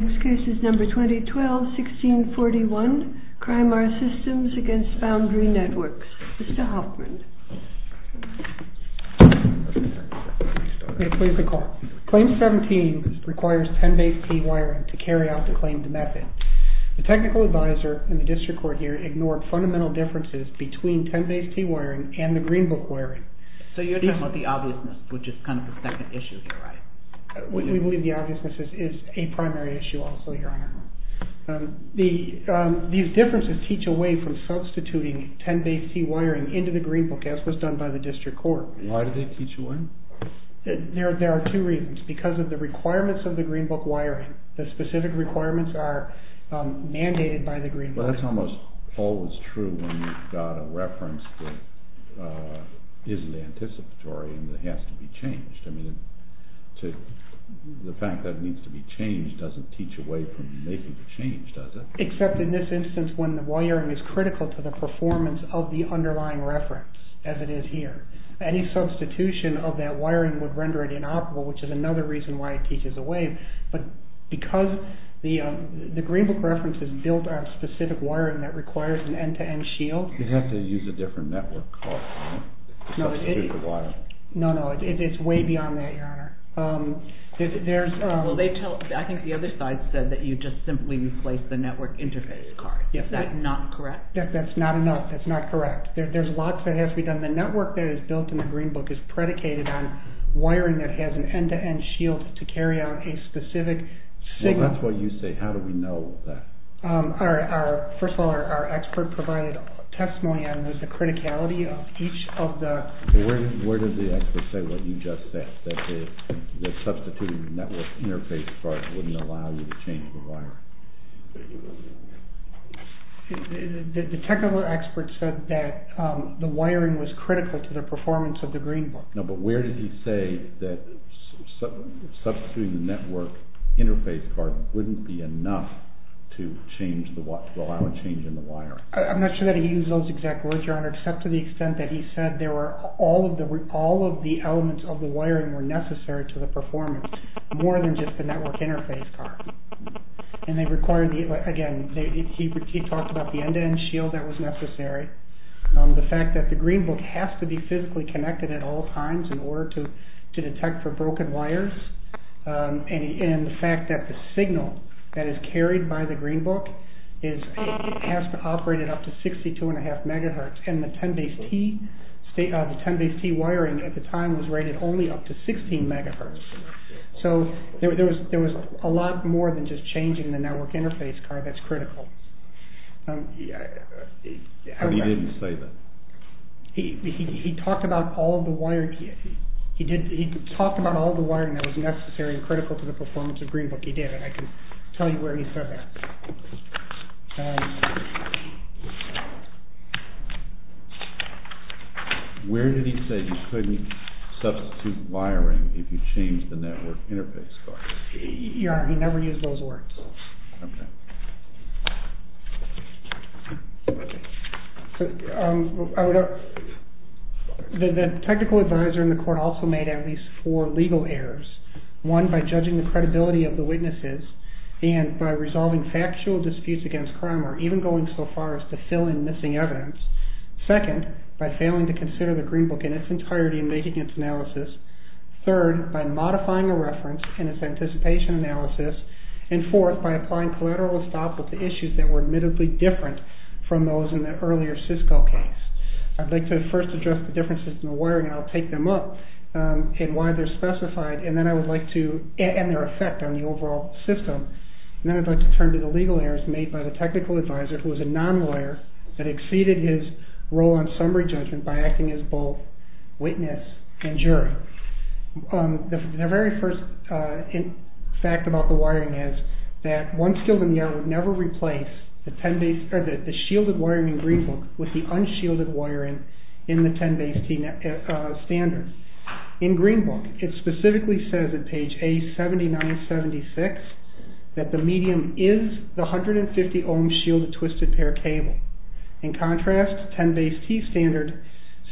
Next case is number 2012-1641, CRIMAR SYSTEMS v. FOUNDRY NETWORKS. Mr. Hoffman. Please recall. Claim 17 requires 10-base T wiring to carry out the claimed method. The technical advisor in the district court here ignored fundamental differences between 10-base T wiring and the Green Book wiring. So you're talking about the obviousness, which is kind of the second issue here, right? We believe the obviousness is a primary issue also, Your Honor. These differences teach away from substituting 10-base T wiring into the Green Book, as was done by the district court. Why do they teach away? There are two reasons. Because of the requirements of the Green Book wiring. The specific requirements are mandated by the Green Book. But that's almost always true when you've got a reference that isn't anticipatory and that has to be changed. The fact that it needs to be changed doesn't teach away from making the change, does it? Except in this instance when the wiring is critical to the performance of the underlying reference, as it is here. Any substitution of that wiring would render it inoperable, which is another reason why it teaches away. But because the Green Book reference is built on specific wiring that requires an end-to-end shield... You'd have to use a different network card to substitute the wiring. No, no. It's way beyond that, Your Honor. I think the other side said that you just simply replace the network interface card. Is that not correct? That's not enough. That's not correct. There's lots that have to be done. The network that is built in the Green Book is predicated on wiring that has an end-to-end shield to carry out a specific signal... Well, that's what you say. How do we know that? First of all, our expert provided a testimony on the criticality of each of the... Where did the expert say what you just said, that substituting the network interface card wouldn't allow you to change the wiring? The technical expert said that the wiring was critical to the performance of the Green Book. No, but where did he say that substituting the network interface card wouldn't be enough to allow a change in the wiring? I'm not sure that he used those exact words, Your Honor, except to the extent that he said all of the elements of the wiring were necessary to the performance, more than just the network interface card. Again, he talked about the end-to-end shield that was necessary. The fact that the Green Book has to be physically connected at all times in order to detect for broken wires. And the fact that the signal that is carried by the Green Book has to operate at up to 62.5 MHz. And the 10BASE-T wiring at the time was rated only up to 16 MHz. So there was a lot more than just changing the network interface card that's critical. But he didn't say that. He talked about all of the wiring that was necessary and critical to the performance of Green Book. He did, and I can tell you where he said that. Where did he say you couldn't substitute wiring if you changed the network interface card? Your Honor, he never used those words. Okay. The technical advisor in the court also made at least four legal errors. One, by judging the credibility of the witnesses and by resolving factual disputes against crime or even going so far as to fill in missing evidence. Second, by failing to consider the Green Book in its entirety in making its analysis. Third, by modifying the reference in its anticipation analysis. And fourth, by applying collateral estoppel to issues that were admittedly different from those in the earlier Cisco case. I'd like to first address the differences in the wiring, and I'll take them up, and why they're specified, and their effect on the overall system. And then I'd like to turn to the legal errors made by the technical advisor, who was a non-lawyer, that exceeded his role on summary judgment by acting as both witness and jury. The very first fact about the wiring is that one skilled engineer would never replace the shielded wiring in Green Book with the unshielded wiring in the 10BASE-T standard. In Green Book, it specifically says at page A7976 that the medium is the 150 ohm shielded twisted pair cable. In contrast, 10BASE-T standard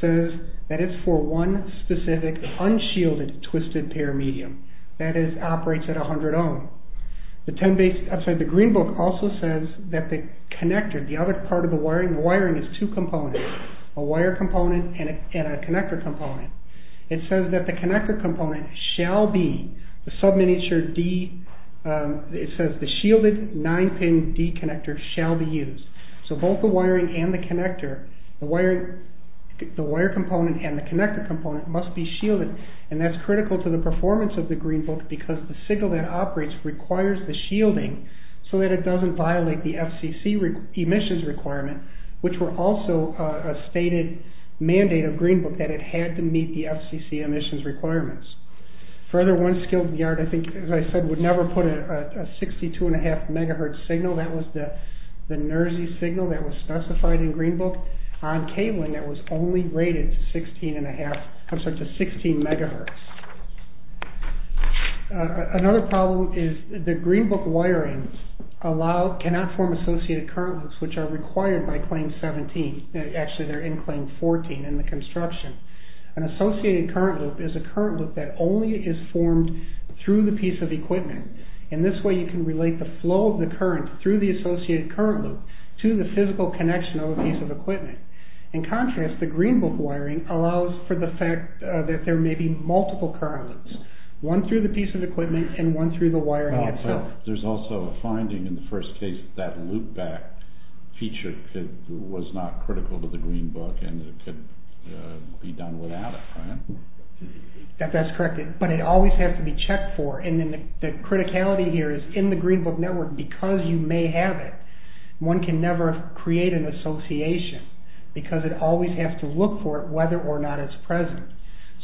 says that it's for one specific unshielded twisted pair medium. That is, operates at 100 ohm. The 10BASE, I'm sorry, the Green Book also says that the connector, the other part of the wiring, the wiring is two components. A wire component and a connector component. It says that the connector component shall be the sub-miniature D, it says the shielded 9-pin D connector shall be used. So both the wiring and the connector, the wire component and the connector component must be shielded. And that's critical to the performance of the Green Book because the signal that operates requires the shielding so that it doesn't violate the FCC emissions requirement, which were also a stated mandate of Green Book that it had to meet the FCC emissions requirements. Further, one skilled yard, I think, as I said, would never put a 62.5 MHz signal, that was the NERSI signal that was specified in Green Book, on cabling that was only rated to 16.5, I'm sorry, to 16 MHz. Another problem is the Green Book wiring allow, cannot form associated current loops, which are required by Claim 17. Actually, they're in Claim 14 in the construction. An associated current loop is a current loop that only is formed through the piece of equipment, and this way you can relate the flow of the current through the associated current loop to the physical connection of a piece of equipment. In contrast, the Green Book wiring allows for the fact that there may be multiple current loops, one through the piece of equipment and one through the wiring itself. There's also a finding in the first case that loopback feature was not critical to the Green Book and it could be done without it, right? That's correct, but it always has to be checked for. And then the criticality here is in the Green Book network, because you may have it, one can never create an association because it always has to look for it, whether or not it's present.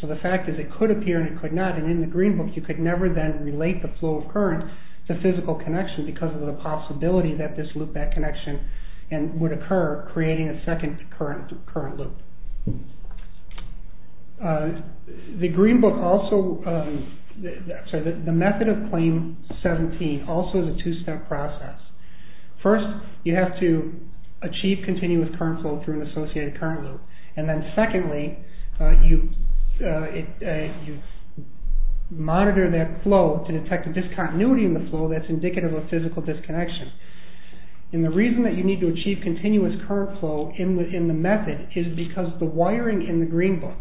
So the fact is it could appear and it could not. And in the Green Book, you could never then relate the flow of current to physical connection because of the possibility that this loopback connection would occur, creating a second current loop. The Green Book also, sorry, the method of Claim 17 also is a two-step process. First, you have to achieve continuous current flow through an associated current loop. And then secondly, you monitor that flow to detect a discontinuity in the flow that's indicative of physical disconnection. And the reason that you need to achieve continuous current flow in the method is because the wiring in the Green Book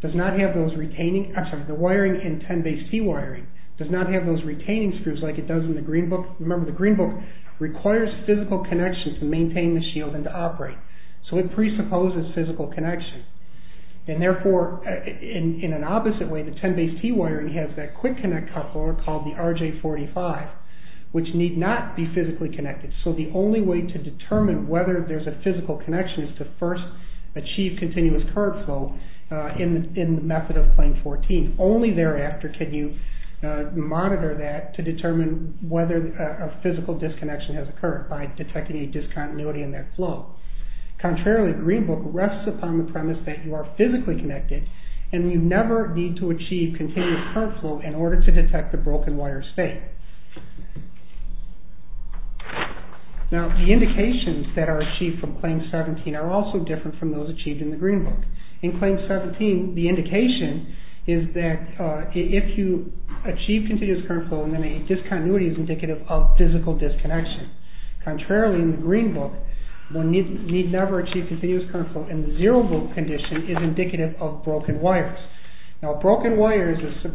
does not have those retaining, I'm sorry, the wiring in 10Base-C wiring does not have those retaining screws like it does in the Green Book. Remember, the Green Book requires physical connections to maintain the shield and to operate. So it presupposes physical connection. And therefore, in an opposite way, the 10Base-T wiring has that quick connect coupler called the RJ45, which need not be physically connected. So the only way to determine whether there's a physical connection is to first achieve continuous current flow in the method of Claim 14. Only thereafter can you monitor that to determine whether a physical disconnection has occurred by detecting a discontinuity in that flow. Contrarily, the Green Book rests upon the premise that you are physically connected and you never need to achieve continuous current flow in order to detect a broken wire state. Now, the indications that are achieved from Claim 17 are also different from those achieved in the Green Book. In Claim 17, the indication is that if you achieve continuous current flow, then a discontinuity is indicative of physical disconnection. Contrarily, in the Green Book, one need never achieve continuous current flow and the zero-volt condition is indicative of broken wires. Now, a broken wire is a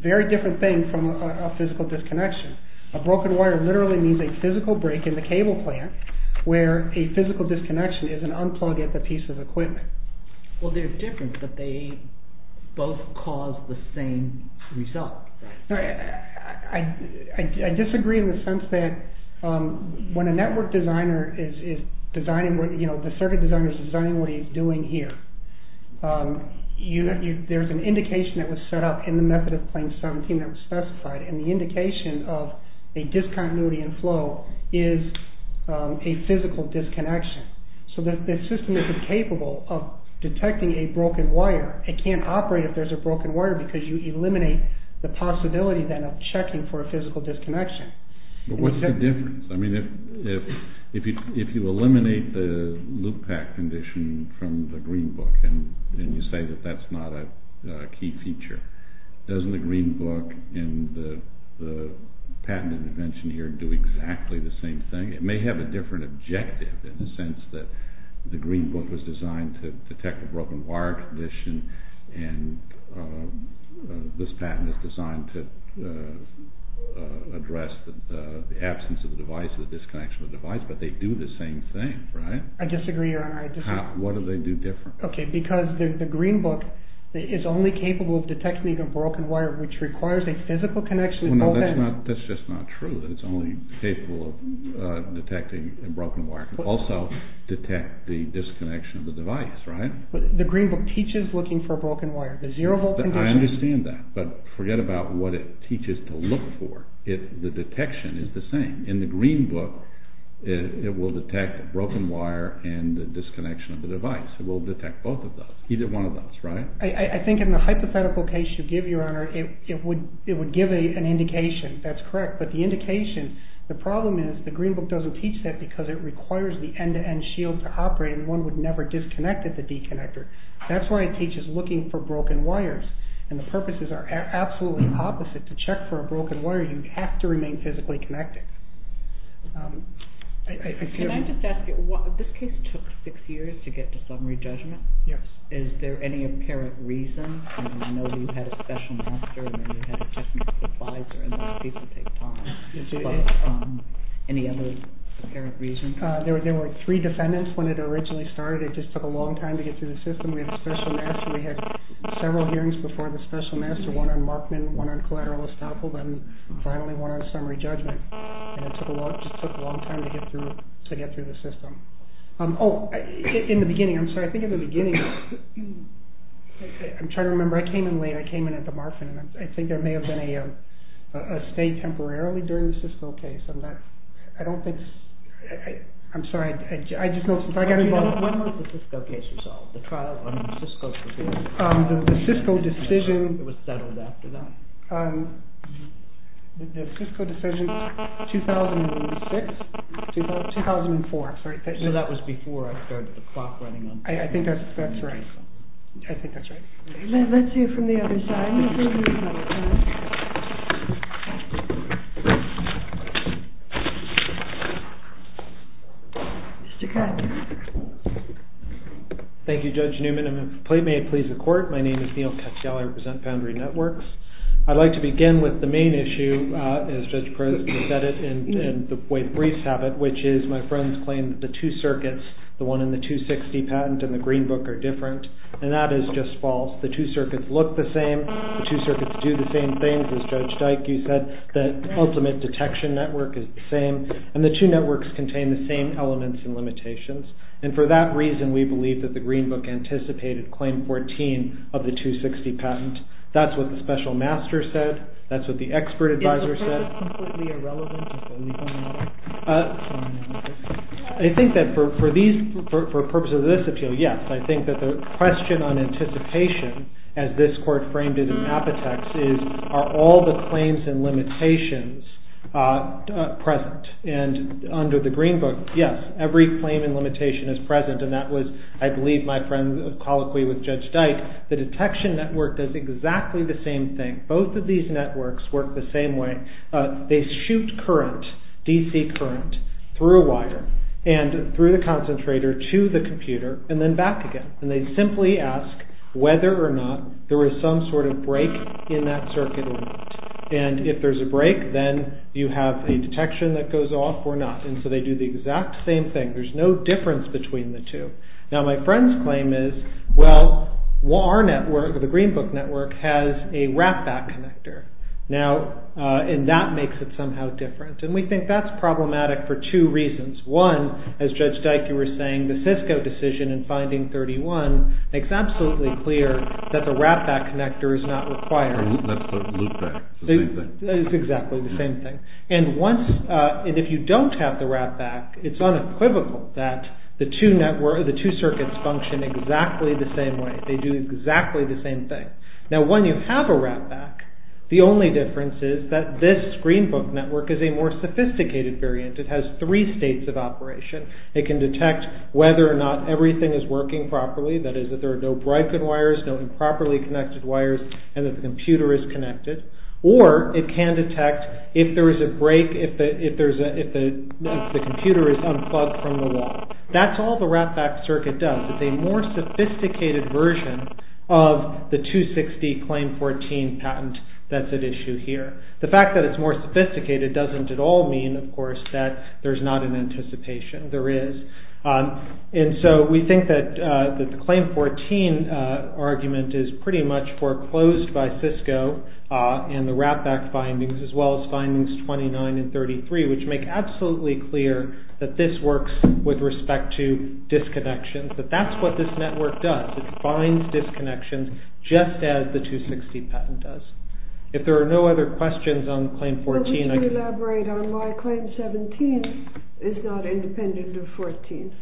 very different thing from a physical disconnection. A broken wire literally means a physical break in the cable plant, where a physical disconnection is an unplug at the piece of equipment. Well, they're different, but they both cause the same result. I disagree in the sense that when a network designer is designing, you know, the circuit designer is designing what he's doing here, there's an indication that was set up in the method of Claim 17 that was specified, and the indication of a discontinuity in flow is a physical disconnection. So the system isn't capable of detecting a broken wire. It can't operate if there's a broken wire because you eliminate the possibility then of checking for a physical disconnection. But what's the difference? I mean, if you eliminate the loop-back condition from the Green Book and you say that that's not a key feature, doesn't the Green Book and the patent intervention here do exactly the same thing? It may have a different objective in the sense that the Green Book was designed to detect a broken wire condition, and this patent is designed to address the absence of the device, the disconnection of the device, but they do the same thing, right? I disagree, Your Honor. What do they do different? Okay, because the Green Book is only capable of detecting a broken wire which requires a physical connection. That's just not true, that it's only capable of detecting a broken wire. It can also detect the disconnection of the device, right? The Green Book teaches looking for a broken wire. I understand that, but forget about what it teaches to look for. The detection is the same. In the Green Book, it will detect a broken wire and the disconnection of the device. It will detect both of those, either one of those, right? I think in the hypothetical case you give, Your Honor, it would give an indication. That's correct. But the indication, the problem is the Green Book doesn't teach that because it requires the end-to-end shield to operate and one would never disconnect at the deconnector. That's why it teaches looking for broken wires, and the purposes are absolutely opposite. To check for a broken wire, you have to remain physically connected. Can I just ask you, this case took six years to get to summary judgment. Yes. Is there any apparent reason? I know you had a special master and you had a technical advisor Is there any other apparent reason? There were three defendants when it originally started. It just took a long time to get through the system. We had a special master. We had several hearings before the special master, one on Markman, one on collateral estoppel, and finally one on summary judgment. It just took a long time to get through the system. In the beginning, I'm sorry, I think in the beginning, I'm trying to remember, I came in late. I came in at the Markman. I think there may have been a stay temporarily during the Cisco case. I don't think, I'm sorry, I just noticed, I got involved. When was the Cisco case resolved? The trial on Cisco? The Cisco decision. It was settled after that? The Cisco decision, 2006, 2004, I'm sorry. So that was before I started the clock running on time. I think that's right. I think that's right. Let's hear from the other side. Mr. Cutler. Thank you, Judge Newman. May it please the court, my name is Neal Cutler. I represent Foundry Networks. I'd like to begin with the main issue, as Judge Perez has said it, and the way briefs have it, which is my friends claim that the two circuits, the one in the 260 patent and the Green Book are different, and that is just false. The two circuits look the same. The two circuits do the same things, as Judge Dyke, you said, that ultimate detection network is the same, and the two networks contain the same elements and limitations, and for that reason we believe that the Green Book anticipated Claim 14 of the 260 patent. That's what the special master said. That's what the expert advisor said. Is that completely irrelevant? I think that for purposes of this appeal, yes. I think that the question on anticipation, as this court framed it in Apotex, is are all the claims and limitations present, and under the Green Book, yes, every claim and limitation is present, and that was, I believe, my friend's colloquy with Judge Dyke. The detection network does exactly the same thing. Both of these networks work the same way. They shoot current, DC current, through a wire and through the concentrator to the computer and then back again, and they simply ask whether or not there is some sort of break in that circuit or not, and if there's a break, then you have a detection that goes off or not, and so they do the exact same thing. There's no difference between the two. Now, my friend's claim is, well, our network, the Green Book network, has a wrap-back connector, and that makes it somehow different, and we think that's problematic for two reasons. One, as Judge Dyke, you were saying, the Cisco decision in finding 31 makes absolutely clear that the wrap-back connector is not required. That's the loop-back. It's exactly the same thing, and if you don't have the wrap-back, it's unequivocal that the two circuits function exactly the same way. They do exactly the same thing. Now, when you have a wrap-back, the only difference is that this Green Book network is a more sophisticated variant. It has three states of operation. It can detect whether or not everything is working properly, that is, that there are no broken wires, no improperly connected wires, and that the computer is connected, or it can detect if there is a break, if the computer is unplugged from the wall. That's all the wrap-back circuit does. It's a more sophisticated version of the 260 Claim 14 patent that's at issue here. The fact that it's more sophisticated doesn't at all mean, of course, that there's not an anticipation. There is. And so we think that the Claim 14 argument is pretty much foreclosed by Cisco and the wrap-back findings as well as findings 29 and 33, which make absolutely clear that this works with respect to disconnections, that that's what this network does. It finds disconnections just as the 260 patent does. If there are no other questions on Claim 14, I can... But we can elaborate on why Claim 17 is not independent of 14.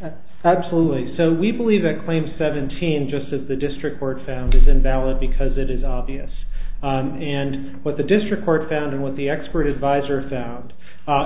Absolutely. So we believe that Claim 17, just as the district court found, is invalid because it is obvious. And what the district court found and what the expert advisor found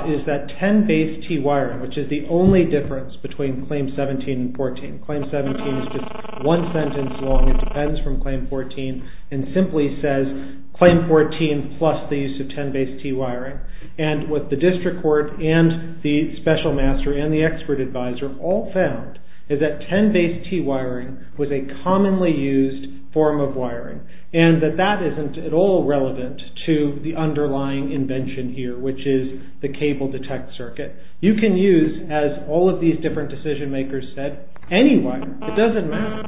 is that 10-base-T wiring, which is the only difference between Claim 17 and 14, Claim 17 is just one sentence long and depends from Claim 14, and simply says Claim 14 plus the use of 10-base-T wiring. And what the district court and the special master and the expert advisor all found is that 10-base-T wiring was a commonly used form of wiring and that that isn't at all relevant to the underlying invention here, which is the cable detect circuit. You can use, as all of these different decision makers said, any wiring. It doesn't matter.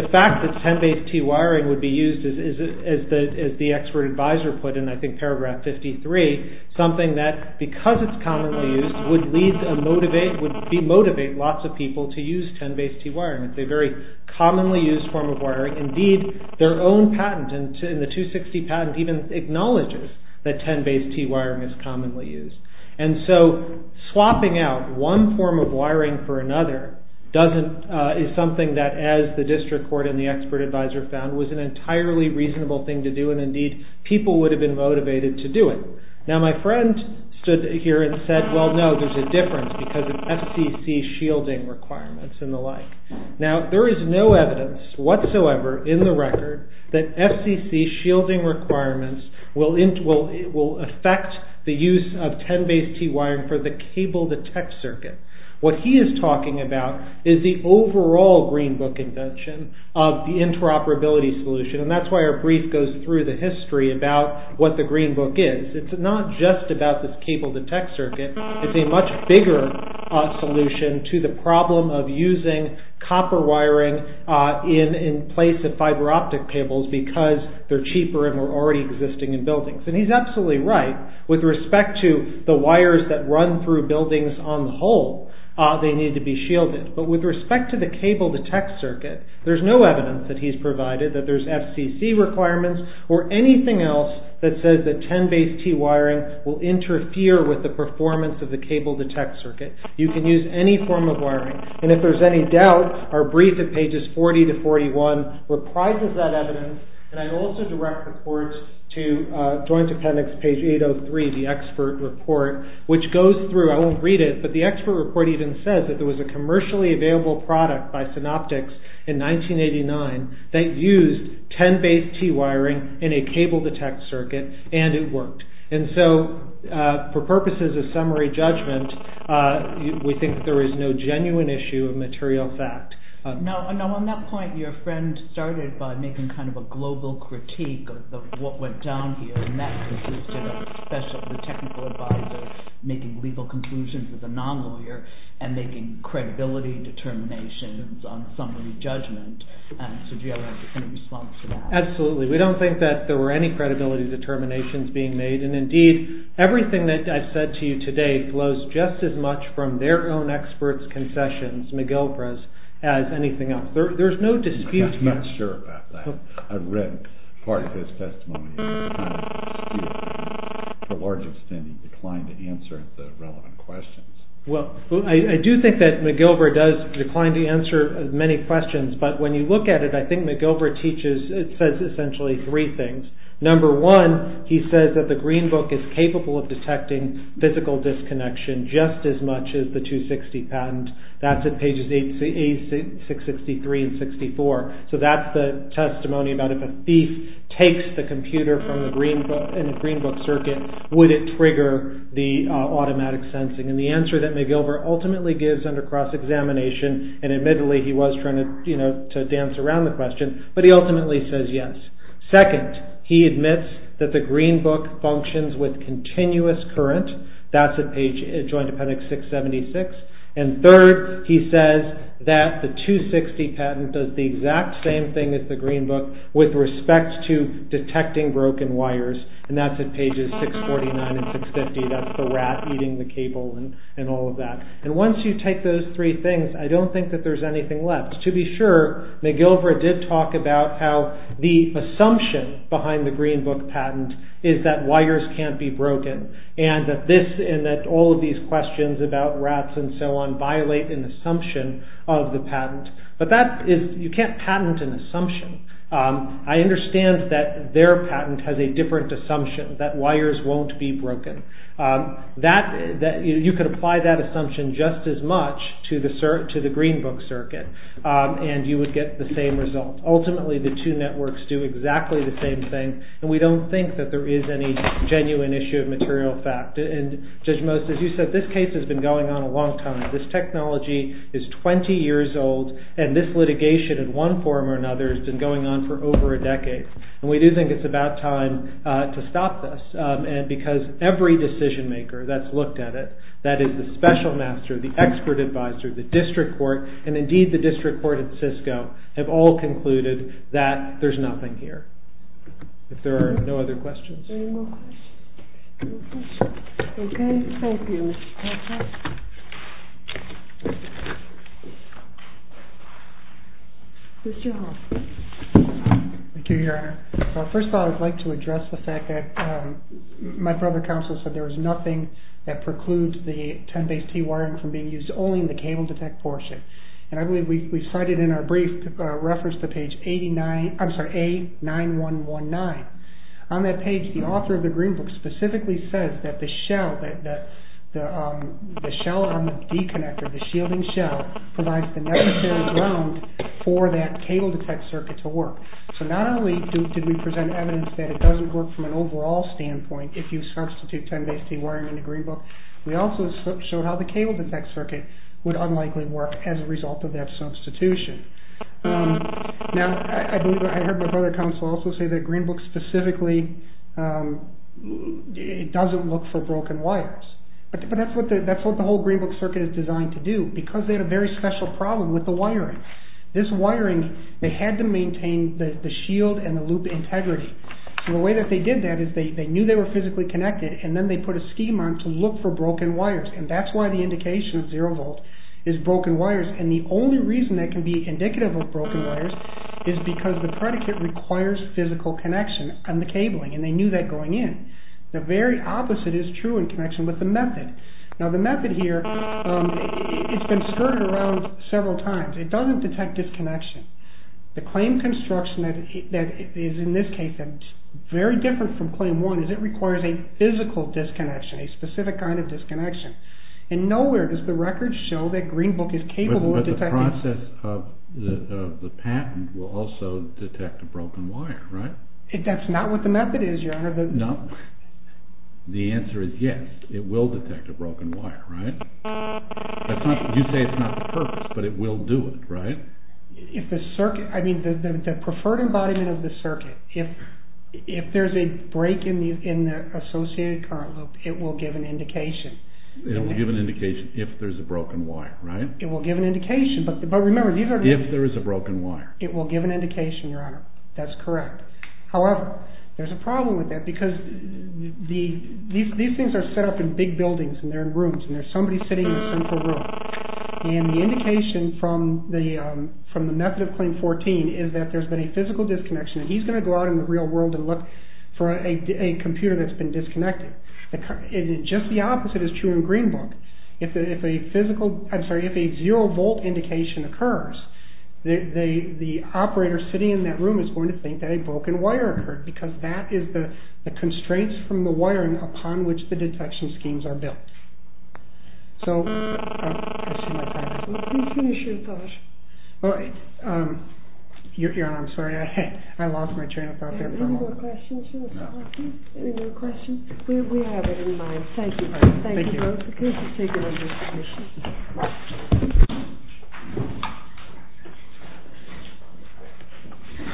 The fact that 10-base-T wiring would be used, as the expert advisor put in, I think, paragraph 53, something that, because it's commonly used, would motivate lots of people to use 10-base-T wiring. It's a very commonly used form of wiring. Indeed, their own patent in the 260 patent even acknowledges that 10-base-T wiring is commonly used. And so swapping out one form of wiring for another is something that, as the district court and the expert advisor found, was an entirely reasonable thing to do, and, indeed, people would have been motivated to do it. Now, my friend stood here and said, well, no, there's a difference because of FCC shielding requirements and the like. Now, there is no evidence whatsoever in the record that FCC shielding requirements will affect the use of 10-base-T wiring for the cable detect circuit. What he is talking about is the overall Green Book invention of the interoperability solution, and that's why our brief goes through the history about what the Green Book is. It's not just about this cable detect circuit. It's a much bigger solution to the problem of using copper wiring in place of fiber optic cables because they're cheaper and were already existing in buildings. And he's absolutely right with respect to the wires that run through buildings on the whole. They need to be shielded. But with respect to the cable detect circuit, there's no evidence that he's provided that there's FCC requirements or anything else that says that 10-base-T wiring will interfere with the performance of the cable detect circuit. You can use any form of wiring. And if there's any doubt, our brief at pages 40 to 41 reprises that evidence, and I also direct reports to Joint Appendix page 803, the expert report, which goes through. I won't read it, but the expert report even says that there was a commercially available product by Synoptics in 1989 that used 10-base-T wiring in a cable detect circuit, and it worked. And so, for purposes of summary judgment, we think that there is no genuine issue of material fact. Now, on that point, your friend started by making kind of a global critique of what went down here, and that consisted of a special technical advisor making legal conclusions as a non-lawyer and making credibility determinations on summary judgment. So do you have any response to that? Absolutely. We don't think that there were any credibility determinations being made, and indeed, everything that I've said to you today flows just as much from their own experts' concessions, McGilvra's, as anything else. There's no dispute. I'm not sure about that. I've read part of his testimony. To a large extent, he declined to answer the relevant questions. Well, I do think that McGilvra does decline to answer many questions, but when you look at it, I think McGilvra teaches, it says essentially three things. Number one, he says that the Green Book is capable of detecting physical disconnection just as much as the 260 patent. That's at pages 86, 63, and 64. So that's the testimony about if a thief takes the computer in the Green Book circuit, would it trigger the automatic sensing? And the answer that McGilvra ultimately gives under cross-examination, and admittedly, he was trying to dance around the question, but he ultimately says yes. Second, he admits that the Green Book functions with continuous current. That's at page, Joint Appendix 676. And third, he says that the 260 patent does the exact same thing as the Green Book with respect to detecting broken wires, and that's at pages 649 and 650. That's the rat eating the cable and all of that. And once you take those three things, I don't think that there's anything left. To be sure, McGilvra did talk about how the assumption behind the Green Book patent is that wires can't be broken, and that all of these questions about rats and so on violate an assumption of the patent. But you can't patent an assumption. I understand that their patent has a different assumption, that wires won't be broken. You could apply that assumption just as much to the Green Book circuit, and you would get the same result. Ultimately, the two networks do exactly the same thing, and we don't think that there is any genuine issue of material fact. Judge Most, as you said, this case has been going on a long time. This technology is 20 years old, and this litigation in one form or another has been going on for over a decade. We do think it's about time to stop this because every decision maker that's looked at it, that is the special master, the expert advisor, the district court, and indeed the district court at Cisco, have all concluded that there's nothing here. If there are no other questions. Okay, thank you. Mr. Hall. Thank you, Your Honor. First of all, I'd like to address the fact that my brother counsel said there was nothing that precludes the 10Base-T wiring from being used only in the cable detect portion. And I believe we cited in our brief reference to page 89... I'm sorry, A-9-1-1-9. On that page, the author of the Green Book specifically says that the shell on the deconnector, the shielding shell, provides the necessary ground for that cable detect circuit to work. So not only did we present evidence that it doesn't work from an overall standpoint if you substitute 10Base-T wiring in the Green Book, we also showed how the cable detect circuit would unlikely work as a result of that substitution. Now, I heard my brother counsel also say that Green Book specifically doesn't look for broken wires. But that's what the whole Green Book circuit is designed to do because they had a very special problem with the wiring. This wiring, they had to maintain the shield and the loop integrity. So the way that they did that is they knew they were physically connected and then they put a scheme on to look for broken wires. And that's why the indication of zero volt is broken wires. And the only reason that can be indicative of broken wires is because the predicate requires physical connection on the cabling, and they knew that going in. The very opposite is true in connection with the method. Now, the method here, it's been skirted around several times. It doesn't detect disconnection. The claim construction that is in this case very different from claim one is it requires a physical disconnection, a specific kind of disconnection. And nowhere does the record show that Green Book is capable of detecting... But the process of the patent will also detect a broken wire, right? That's not what the method is, Your Honor. No. The answer is yes, it will detect a broken wire, right? You say it's not the purpose, but it will do it, right? If the circuit, I mean the preferred embodiment of the circuit, if there's a break in the associated current loop, it will give an indication. It will give an indication if there's a broken wire, right? It will give an indication, but remember these are... If there is a broken wire. It will give an indication, Your Honor. That's correct. However, there's a problem with that because these things are set up in big buildings, and they're in rooms, and there's somebody sitting in a central room. And the indication from the method of claim 14 is that there's been a physical disconnection, and he's going to go out in the real world and look for a computer that's been disconnected. Just the opposite is true in Green Book. If a physical, I'm sorry, if a zero-volt indication occurs, the operator sitting in that room is going to think that a broken wire occurred because that is the constraints from the wiring upon which the detection schemes are built. So... Can you finish your thought? Your Honor, I'm sorry, I lost my train of thought there for a moment. Any more questions, Your Honor? Any more questions? We have it in mind. Thank you, Your Honor. Thank you both for taking on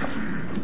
this position.